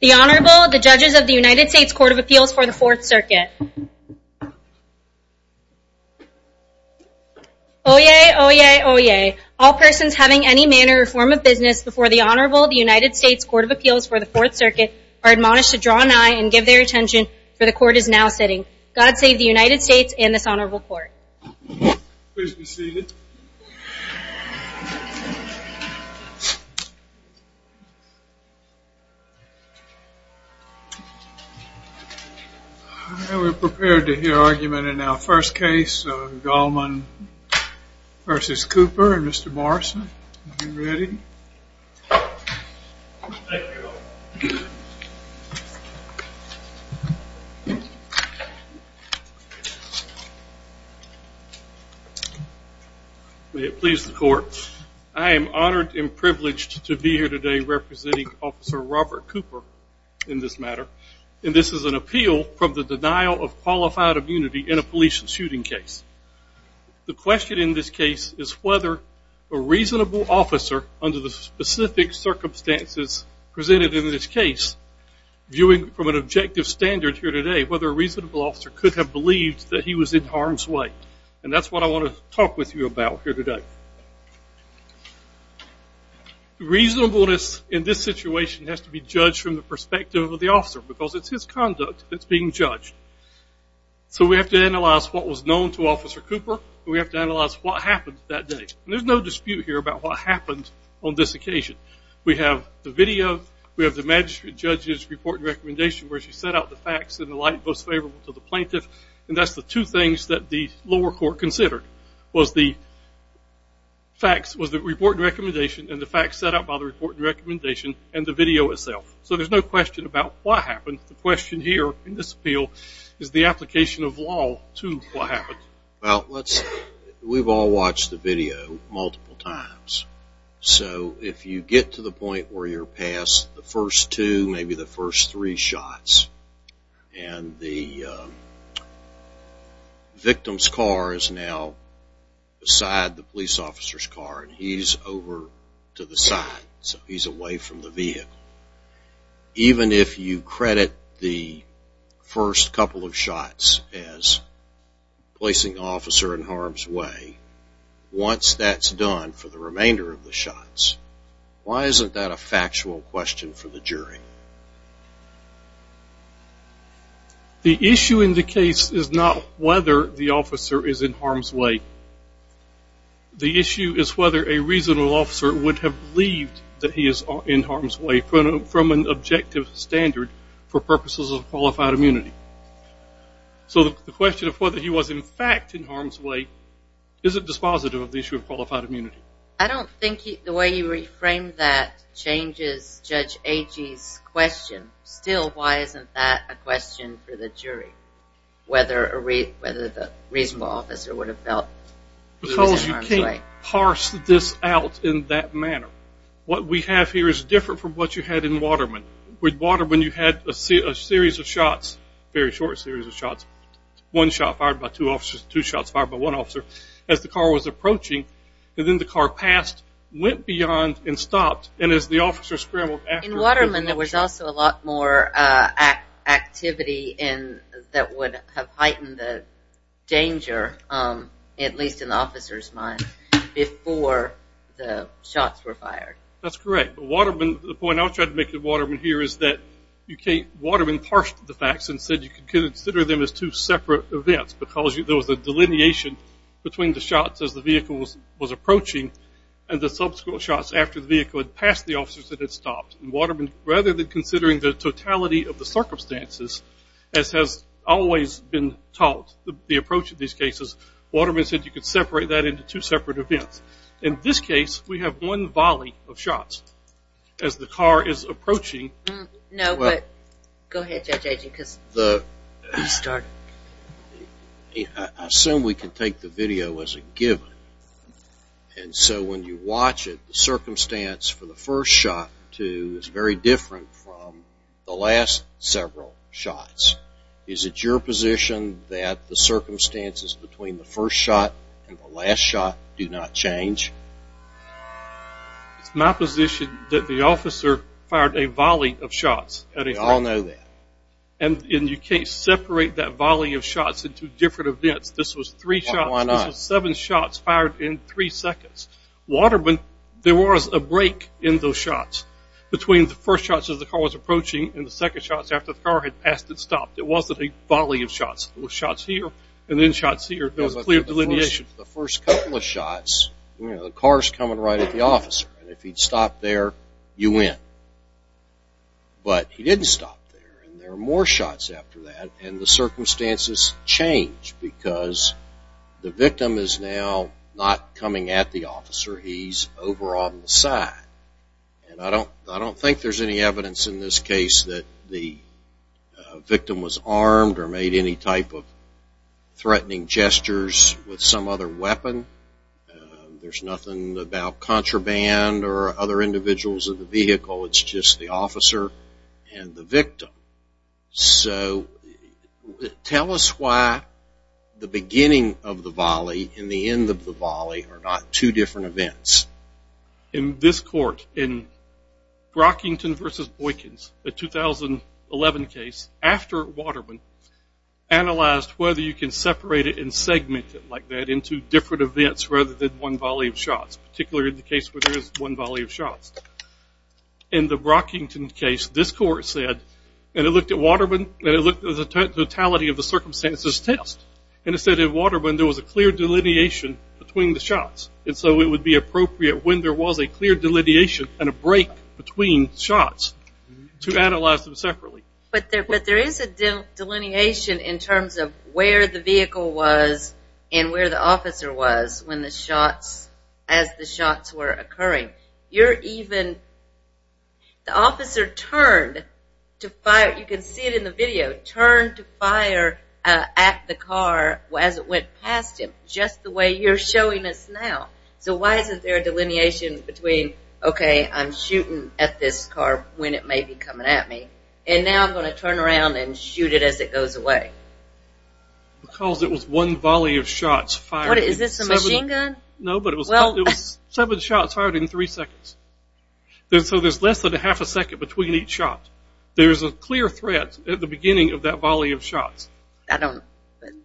The Honorable, the Judges of the United States Court of Appeals for the Fourth Circuit. Oyez! Oyez! Oyez! All persons having any manner or form of business before the Honorable, the United States Court of Appeals for the Fourth Circuit are admonished to draw an eye and give their attention, for the Court is now sitting. God save the United States and this Honorable Court. Please be seated. We're prepared to hear argument in our first case, Gallmon v. Cooper and Mr. Morrison. Are you ready? Thank you. May it please the Court. I am honored and privileged to be here today representing Officer Robert Cooper in this matter, and this is an appeal from the denial of qualified immunity in a police shooting case. The question in this case is whether a reasonable officer, under the specific circumstances presented in this case, viewing from an objective standard here today, whether a reasonable officer could have believed that he was in harm's way. And that's what I want to talk with you about here today. Reasonableness in this situation has to be judged from the perspective of the officer, because it's his conduct that's being judged. So we have to analyze what was known to Officer Cooper, and we have to analyze what happened that day. There's no dispute here about what happened on this occasion. We have the video, we have the magistrate judge's report and facts in the light most favorable to the plaintiff. And that's the two things that the lower court considered, was the facts, was the report and recommendation, and the facts set out by the report and recommendation, and the video itself. So there's no question about what happened. The question here in this appeal is the application of law to what happened. Well, we've all watched the video multiple times. So if you get to the point where you're past the first two, maybe the first three shots, and the victim's car is now beside the police officer's car, and he's over to the side, so he's away from the vehicle. Even if you credit the first couple of shots as placing the officer in harm's way, once that's done for the remainder of the shots, why isn't that a factual question for the jury? The issue in the case is not whether the officer is in harm's way. The issue is whether a reasonable officer would have believed that he is in harm's way from an objective standard for purposes of qualified immunity. So the question of whether he was in fact in harm's way isn't dispositive of the issue of qualified immunity. I don't think the way you reframed that changes Judge Agee's question. Still, why isn't that a question for the jury, whether the reasonable officer would have felt that he was in harm's way? Because you can't parse this out in that manner. What we have here is different from what you had in Waterman. With Waterman, you had a series of shots, a very short series of shots, one shot fired by two officers, two shots fired by one officer, as the car was approaching. And then the car passed, went beyond, and stopped. And as the officer scrambled after... In Waterman, there was also a lot more activity that would have heightened the danger, at least in the officer's mind, before the shots were fired. That's correct. The point I was trying to make in Waterman here is that Waterman parsed the facts and said you could consider them as two separate events, because there was a delineation between the shots as the vehicle was approaching, and the subsequent shots after the vehicle had passed the officers that had stopped. In Waterman, rather than considering the totality of the circumstances, as has always been taught, the approach of these cases, Waterman said you could separate that into two separate events. In this case, we have one volley of shots as the car is approaching. I assume we can take the video as a given. And so when you watch it, the circumstance for the first shot is very different from the last several shots. Is it your position that the circumstances between the first shot and the last shot do not change? It's my position that the officer fired a volley of shots. We all know that. And you can't separate that volley of shots into different events. This was three shots. Why not? This was seven shots fired in three seconds. Waterman, there was a break in those shots between the first shots as the car was approaching and the second shots after the car had passed and stopped. It wasn't a volley of shots. It was shots here and then shots here. There was clear delineation. In addition to the first couple of shots, the car is coming right at the officer. And if he had stopped there, you win. But he didn't stop there. And there were more shots after that and the circumstances changed because the victim is now not coming at the officer. He's over on the side. And I don't think there's any evidence in this case that the victim was armed or made any type of threatening gestures with some other weapon. There's nothing about contraband or other individuals in the vehicle. It's just the officer and the victim. So tell us why the beginning of the volley and the end of the volley are not two different events. In this court, in Brockington v. Boykins, the 2011 case, after Waterman, analyzed whether you can separate it and segment it like that into different events rather than one volley of shots, particularly in the case where there is one volley of shots. In the Brockington case, this court said, and it looked at Waterman, and it looked at the totality of the circumstances test. And it said in Waterman there was a clear delineation between the shots. And so it would be appropriate when there was a clear delineation and a break between shots to analyze them separately. But there is a delineation in terms of where the vehicle was and where the officer was when the shots, as the shots were occurring. You're even, the officer turned to fire, you can see it in the video, turned to fire at the car as it went past him, just the way you're showing us now. So why isn't there a delineation between, okay, I'm shooting at this car when it may be coming at me, and now I'm going to turn around and shoot it as it goes away? Because it was one volley of shots fired. Is this a machine gun? No, but it was seven shots fired in three seconds. So there's less than a half a second between each shot. There's a clear threat at the beginning of that volley of shots. I don't,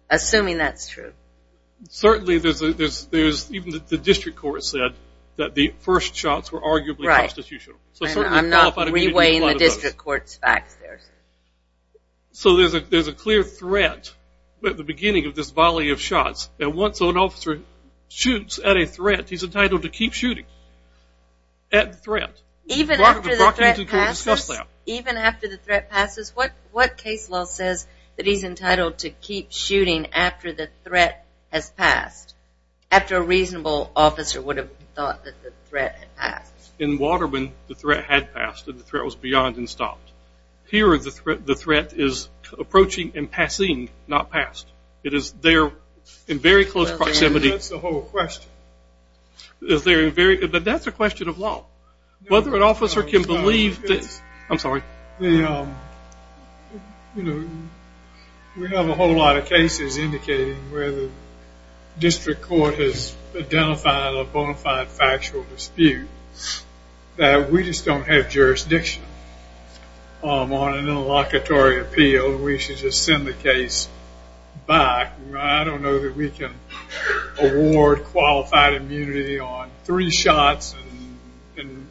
assuming that's true. Certainly there's, even the district court said that the first shots were arguably constitutional. Right. I'm not re-weighing the district court's facts there. So there's a clear threat at the beginning of this volley of shots. And once an officer shoots at a threat, he's entitled to keep shooting at the threat. Even after the threat passes? Even after the threat passes? What case law says that he's entitled to keep shooting after the threat has passed, after a reasonable officer would have thought that the threat had passed? In Waterman, the threat had passed, and the threat was beyond and stopped. Here, the threat is approaching and passing, not passed. It is there in very close proximity. That's the whole question. But that's a question of law. Whether an officer can believe this. I'm sorry. We have a whole lot of cases indicating where the district court has identified a bona fide factual dispute that we just don't have jurisdiction on an interlocutory appeal. We should just send the case back. I don't know that we can award qualified immunity on three shots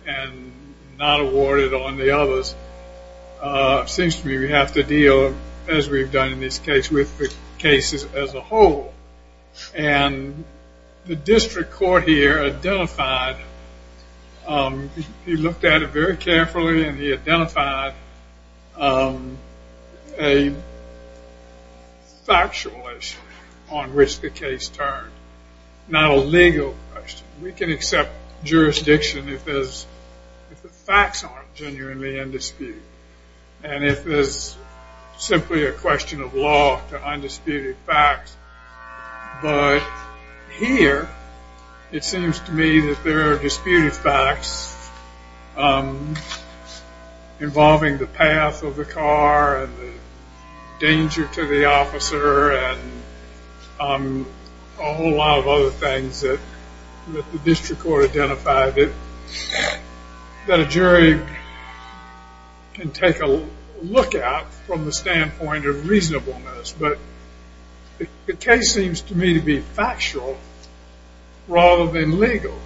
and not award it on the others. It seems to me we have to deal, as we've done in this case, with the cases as a whole. And the district court here identified, he looked at it very carefully, and he identified a factual issue on which the case turned. Not a legal question. We can accept jurisdiction if the facts aren't genuinely in dispute. And if it's simply a question of law to undisputed facts. But here, it seems to me that there are disputed facts involving the path of the car and the danger to the officer and a whole lot of other things that the district court identified. That a jury can take a look at from the standpoint of reasonableness. But the case seems to me to be factual rather than legal.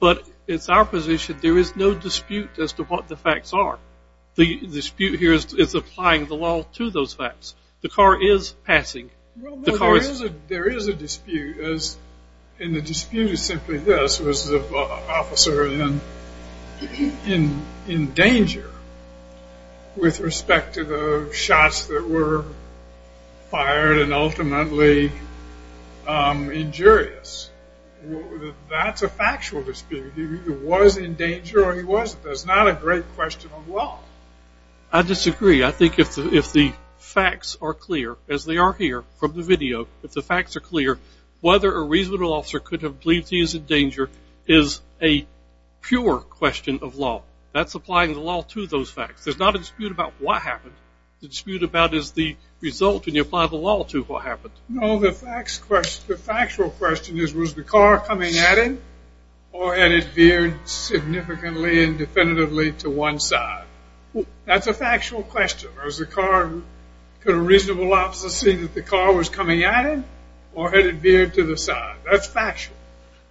But it's our position there is no dispute as to what the facts are. The dispute here is applying the law to those facts. The car is passing. There is a dispute. And the dispute is simply this. Was the officer in danger with respect to the shots that were fired and ultimately injurious? That's a factual dispute. He was in danger or he wasn't. That's not a great question of law. I disagree. I think if the facts are clear, as they are here from the video, if the facts are clear, whether a reasonable officer could have believed he was in danger is a pure question of law. That's applying the law to those facts. There's not a dispute about what happened. The dispute about is the result when you apply the law to what happened. No, the factual question is was the car coming at him or had it veered significantly and definitively to one side? That's a factual question. Could a reasonable officer see that the car was coming at him or had it veered to the side? That's factual.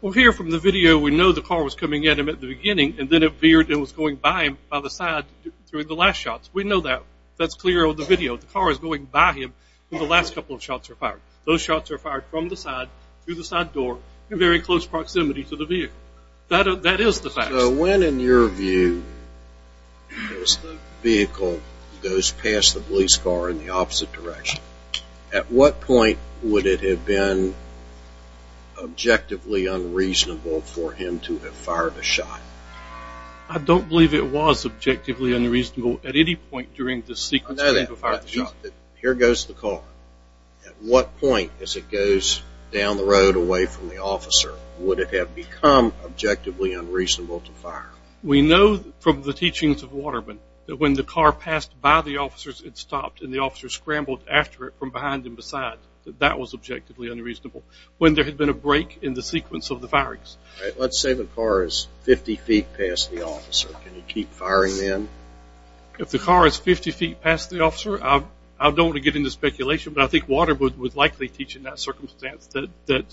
Well, here from the video, we know the car was coming at him at the beginning and then it veered and was going by him by the side during the last shots. We know that. That's clear on the video. The car is going by him when the last couple of shots were fired. Those shots were fired from the side through the side door in very close proximity to the vehicle. That is the fact. So when, in your view, does the vehicle go past the police car in the opposite direction, at what point would it have been objectively unreasonable for him to have fired a shot? I don't believe it was objectively unreasonable at any point during the sequence. I know that. Here goes the car. At what point as it goes down the road away from the officer would it have become objectively unreasonable to fire? We know from the teachings of Waterman that when the car passed by the officers, it stopped and the officers scrambled after it from behind and beside, that that was objectively unreasonable when there had been a break in the sequence of the firings. Let's say the car is 50 feet past the officer. Can he keep firing then? If the car is 50 feet past the officer, I don't want to get into speculation, but I think Waterman would likely teach in that circumstance that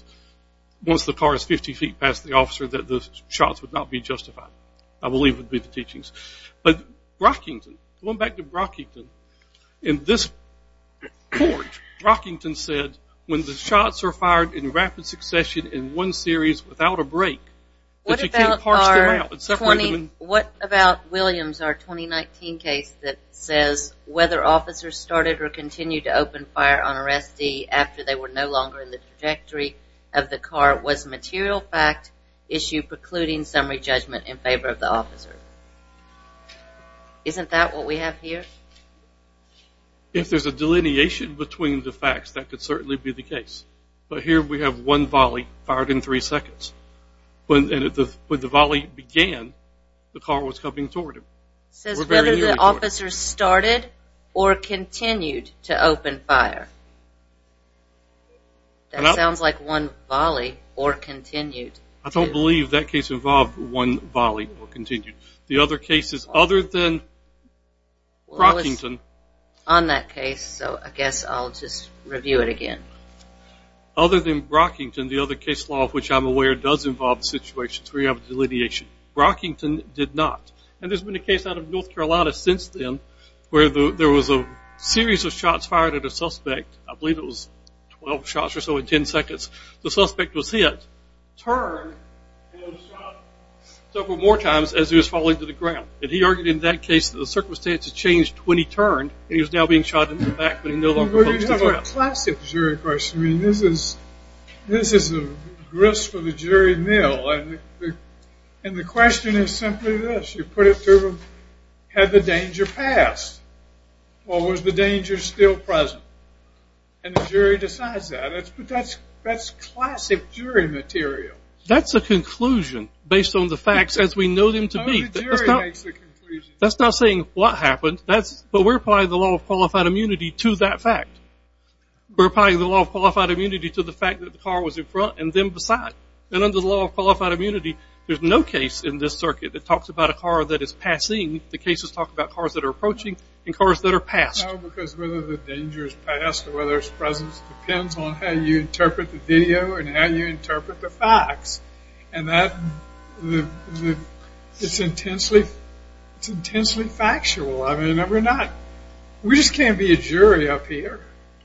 once the car is 50 feet past the officer that the shots would not be justified. I believe it would be the teachings. But Rockington, going back to Rockington, in this court, Rockington said when the shots are fired in rapid succession in one series without a break, that you can't parse them out. What about Williams, our 2019 case that says whether officers started or continued to open fire on a restee after they were no longer in the trajectory of the car was a material fact issue precluding summary judgment in favor of the officer. Isn't that what we have here? If there's a delineation between the facts, that could certainly be the case. But here we have one volley fired in three seconds. When the volley began, the car was coming toward him. It says whether the officer started or continued to open fire. That sounds like one volley or continued. I don't believe that case involved one volley or continued. The other cases other than Rockington. On that case, so I guess I'll just review it again. Other than Rockington, the other case law of which I'm aware does involve situations where you have delineation. Rockington did not. And there's been a case out of North Carolina since then where there was a series of shots fired at a suspect. I believe it was 12 shots or so in 10 seconds. The suspect was hit, turned, and was shot several more times as he was falling to the ground. And he argued in that case that the circumstances changed when he turned You have a classic jury question. I mean, this is a grist for the jury mill. And the question is simply this. You put it to them, had the danger passed or was the danger still present? And the jury decides that. But that's classic jury material. That's a conclusion based on the facts as we know them to be. That's not saying what happened. But we're applying the law of qualified immunity to that fact. We're applying the law of qualified immunity to the fact that the car was in front and them beside. And under the law of qualified immunity, there's no case in this circuit that talks about a car that is passing. The cases talk about cars that are approaching and cars that are passed. No, because whether the danger is passed or whether it's present depends on how you interpret the video and how you interpret the facts. And that, it's intensely factual. I mean, we're not, we just can't be a jury up here.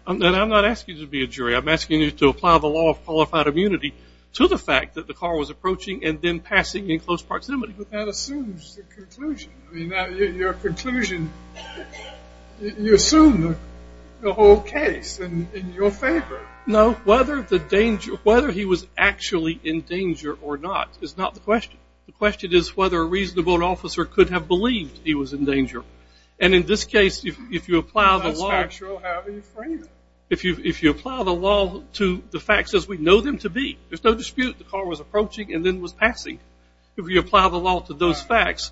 I'm not asking you to be a jury. I'm asking you to apply the law of qualified immunity to the fact that the car was approaching and then passing in close proximity. But that assumes the conclusion. I mean, your conclusion, you assume the whole case in your favor. No, whether the danger, whether he was actually in danger or not is not the question. The question is whether a reasonable officer could have believed he was in danger. And in this case, if you apply the law to the facts as we know them to be, there's no dispute the car was approaching and then was passing. If you apply the law to those facts,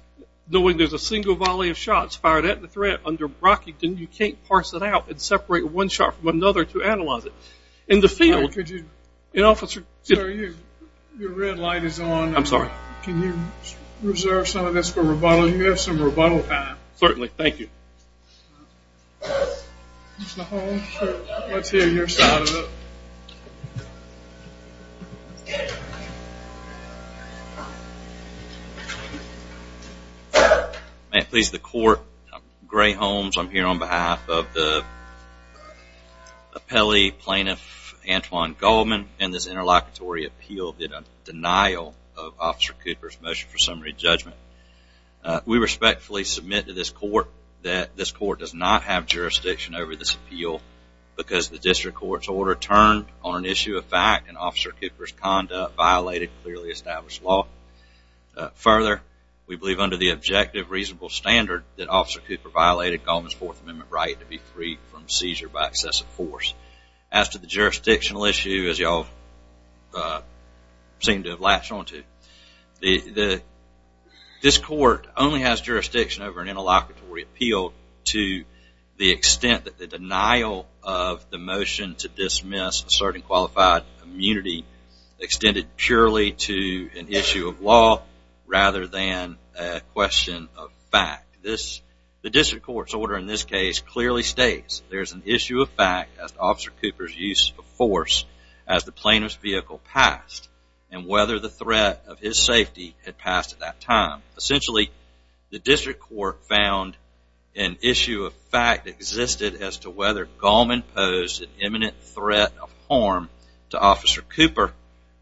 knowing there's a single volley of shots fired at the threat under Brockington, you can't parse it out and separate one shot from another to analyze it. In the field, an officer could... Sir, your red light is on. I'm sorry. Can you reserve some of this for rebuttal? You have some rebuttal time. Certainly. Thank you. Mr. Holmes, let's hear your side of it. Excuse me. May it please the court, I'm Gray Holmes. I'm here on behalf of the appellee plaintiff, Antoine Goldman, and this interlocutory appeal did a denial of Officer Cooper's motion for summary judgment. We respectfully submit to this court that this court does not have jurisdiction over this appeal because the district court's order turned on an issue of fact and Officer Cooper's conduct violated clearly established law. Further, we believe under the objective reasonable standard that Officer Cooper violated Goldman's Fourth Amendment right to be freed from seizure by excessive force. As to the jurisdictional issue, as you all seem to have latched onto, this court only has jurisdiction over an interlocutory appeal to the extent that the denial of the motion to dismiss asserting qualified immunity extended purely to an issue of law rather than a question of fact. The district court's order in this case clearly states there's an issue of fact as to Officer Cooper's use of force as the plaintiff's vehicle passed and whether the threat of his safety had passed at that time. Essentially, the district court found an issue of fact existed as to whether Goldman posed an imminent threat of harm to Officer Cooper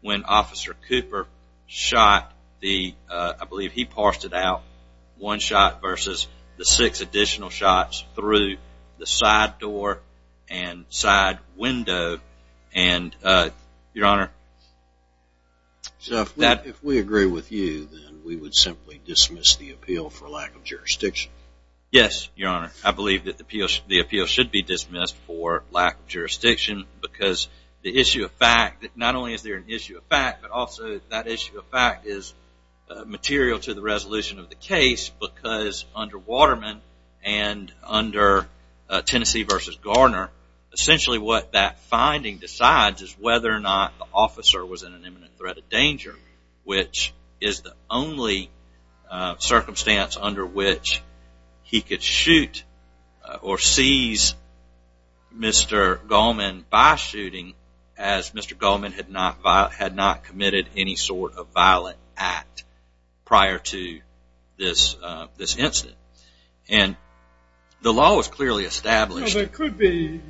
when Officer Cooper shot the, I believe he parsed it out, one shot versus the six additional shots through the side door and side window. Your Honor? If we agree with you, then we would simply dismiss the appeal for lack of jurisdiction. Yes, Your Honor. I believe that the appeal should be dismissed for lack of jurisdiction because the issue of fact, not only is there an issue of fact, but also that issue of fact is material to the resolution of the case because under Waterman and under Tennessee v. Garner, essentially what that finding decides is whether or not the officer was in an imminent threat of danger, which is the only circumstance under which he could shoot or seize Mr. Goldman by shooting as Mr. Goldman had not committed any sort of violent act prior to this incident. The law was clearly established. There could be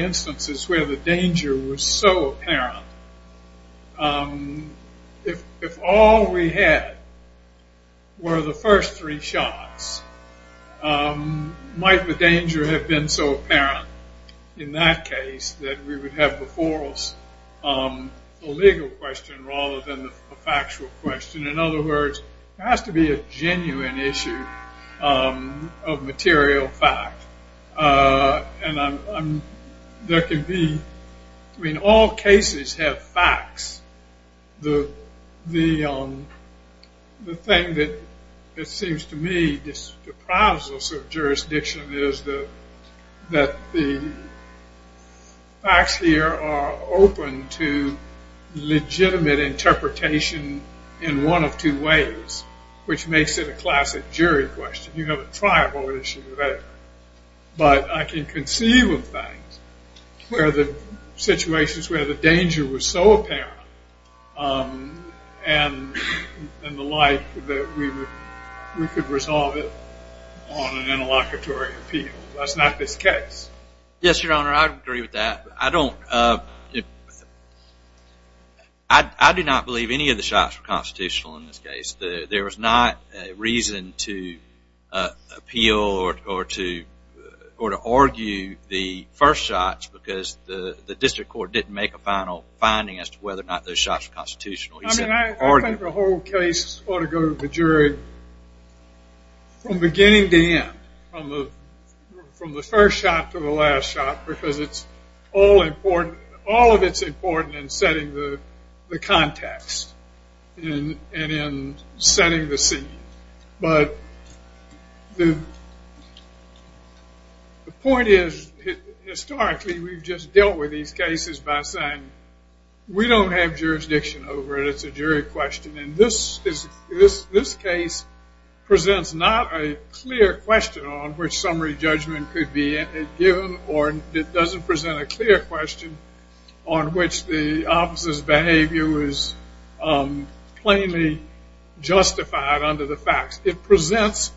instances where the danger was so apparent. If all we had were the first three shots, might the danger have been so apparent in that case that we would have before us a legal question rather than a factual question? In other words, it has to be a genuine issue of material fact. And there could be, I mean, all cases have facts. The thing that seems to me to surprise us of jurisdiction is that the facts here are open to legitimate interpretation in one of two ways, which makes it a classic jury question. You have a tribal issue there. But I can conceive of things where the situations where the danger was so apparent and the like that we could resolve it on an interlocutory appeal. That's not this case. Yes, Your Honor, I agree with that. I do not believe any of the shots were constitutional in this case. There was not a reason to appeal or to argue the first shots because the district court didn't make a final finding as to whether or not those shots were constitutional. I think the whole case ought to go to the jury from beginning to end, from the first shot to the last shot, because all of it's important in setting the context and in setting the scene. But the point is, historically, we've just dealt with these cases by saying, we don't have jurisdiction over it. It's a jury question. And this case presents not a clear question on which summary judgment could be given or it doesn't present a clear question on which the officer's behavior was plainly justified under the facts. It presents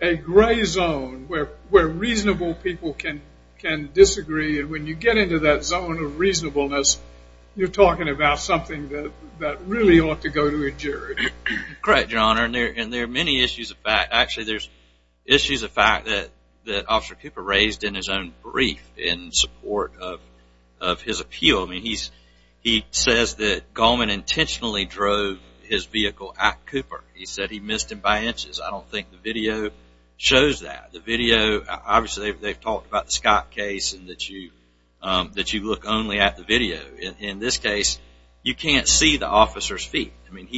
a gray zone where reasonable people can disagree. And when you get into that zone of reasonableness, you're talking about something that really ought to go to a jury. Correct, Your Honor. And there are many issues of fact. Actually, there's issues of fact that Officer Cooper raised in his own brief in support of his appeal. I mean, he says that Gallman intentionally drove his vehicle at Cooper. He said he missed him by inches. I don't think the video shows that. The video, obviously, they've talked about the Scott case and that you look only at the video. In this case, you can't see the officer's feet. I mean,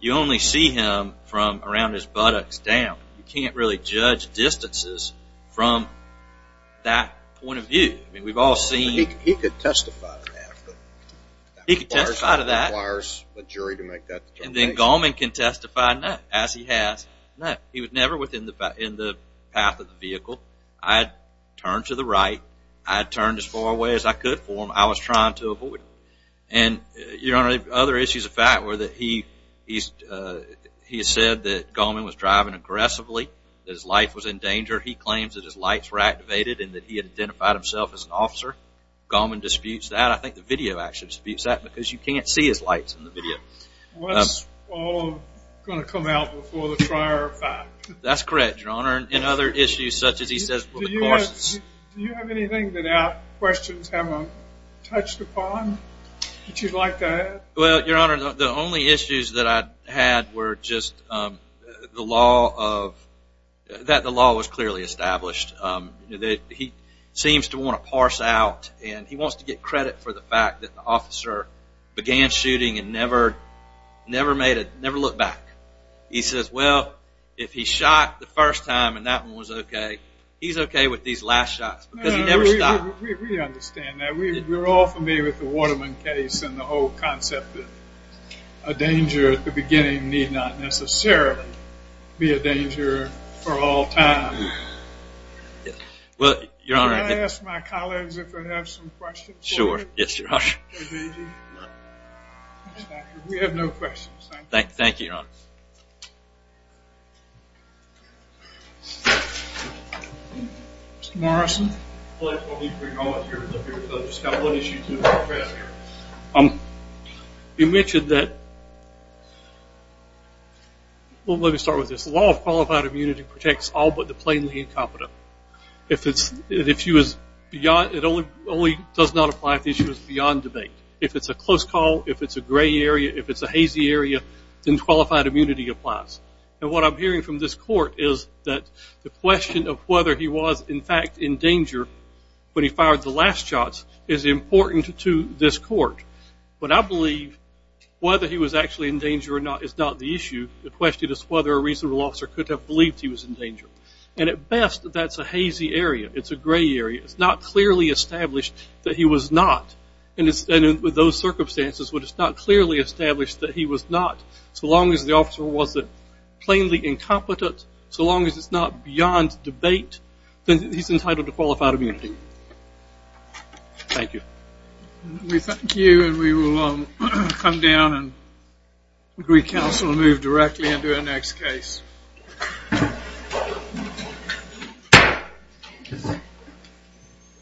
you only see him from around his buttocks down. You can't really judge distances from that point of view. I mean, we've all seen. He could testify to that. He could testify to that. It requires a jury to make that determination. And then Gallman can testify, no, as he has, no. He was never within the path of the vehicle. I had turned to the right. I had turned as far away as I could for him. I was trying to avoid him. And, Your Honor, other issues of fact were that he said that Gallman was driving aggressively, that his life was in danger. He claims that his lights were activated and that he had identified himself as an officer. Gallman disputes that. I think the video actually disputes that because you can't see his lights in the video. What's all going to come out before the trial are found? That's correct, Your Honor. Do you have anything that our questions haven't touched upon that you'd like to add? Well, Your Honor, the only issues that I had were just that the law was clearly established. He seems to want to parse out, and he wants to get credit for the fact that the officer began shooting and never looked back. He says, well, if he shot the first time, and that one was okay, he's okay with these last shots because he never stopped. We understand that. We're all familiar with the Waterman case and the whole concept that a danger at the beginning need not necessarily be a danger for all time. Can I ask my colleagues if they have some questions? Sure. Yes, Your Honor. We have no questions. Thank you. Thank you, Your Honor. Mr. Morrison. You mentioned that, well, let me start with this. The law of qualified immunity protects all but the plainly incompetent. It only does not apply if the issue is beyond debate. If it's a close call, if it's a gray area, if it's a hazy area, then qualified immunity applies. And what I'm hearing from this court is that the question of whether he was in fact in danger when he fired the last shots is important to this court. But I believe whether he was actually in danger or not is not the issue. The question is whether a reasonable officer could have believed he was in danger. And at best, that's a hazy area. It's a gray area. It's not clearly established that he was not. And with those circumstances, it's not clearly established that he was not so long as the officer wasn't plainly incompetent, so long as it's not beyond debate, then he's entitled to qualified immunity. Thank you. We thank you, and we will come down and recounsel and move directly into our next case.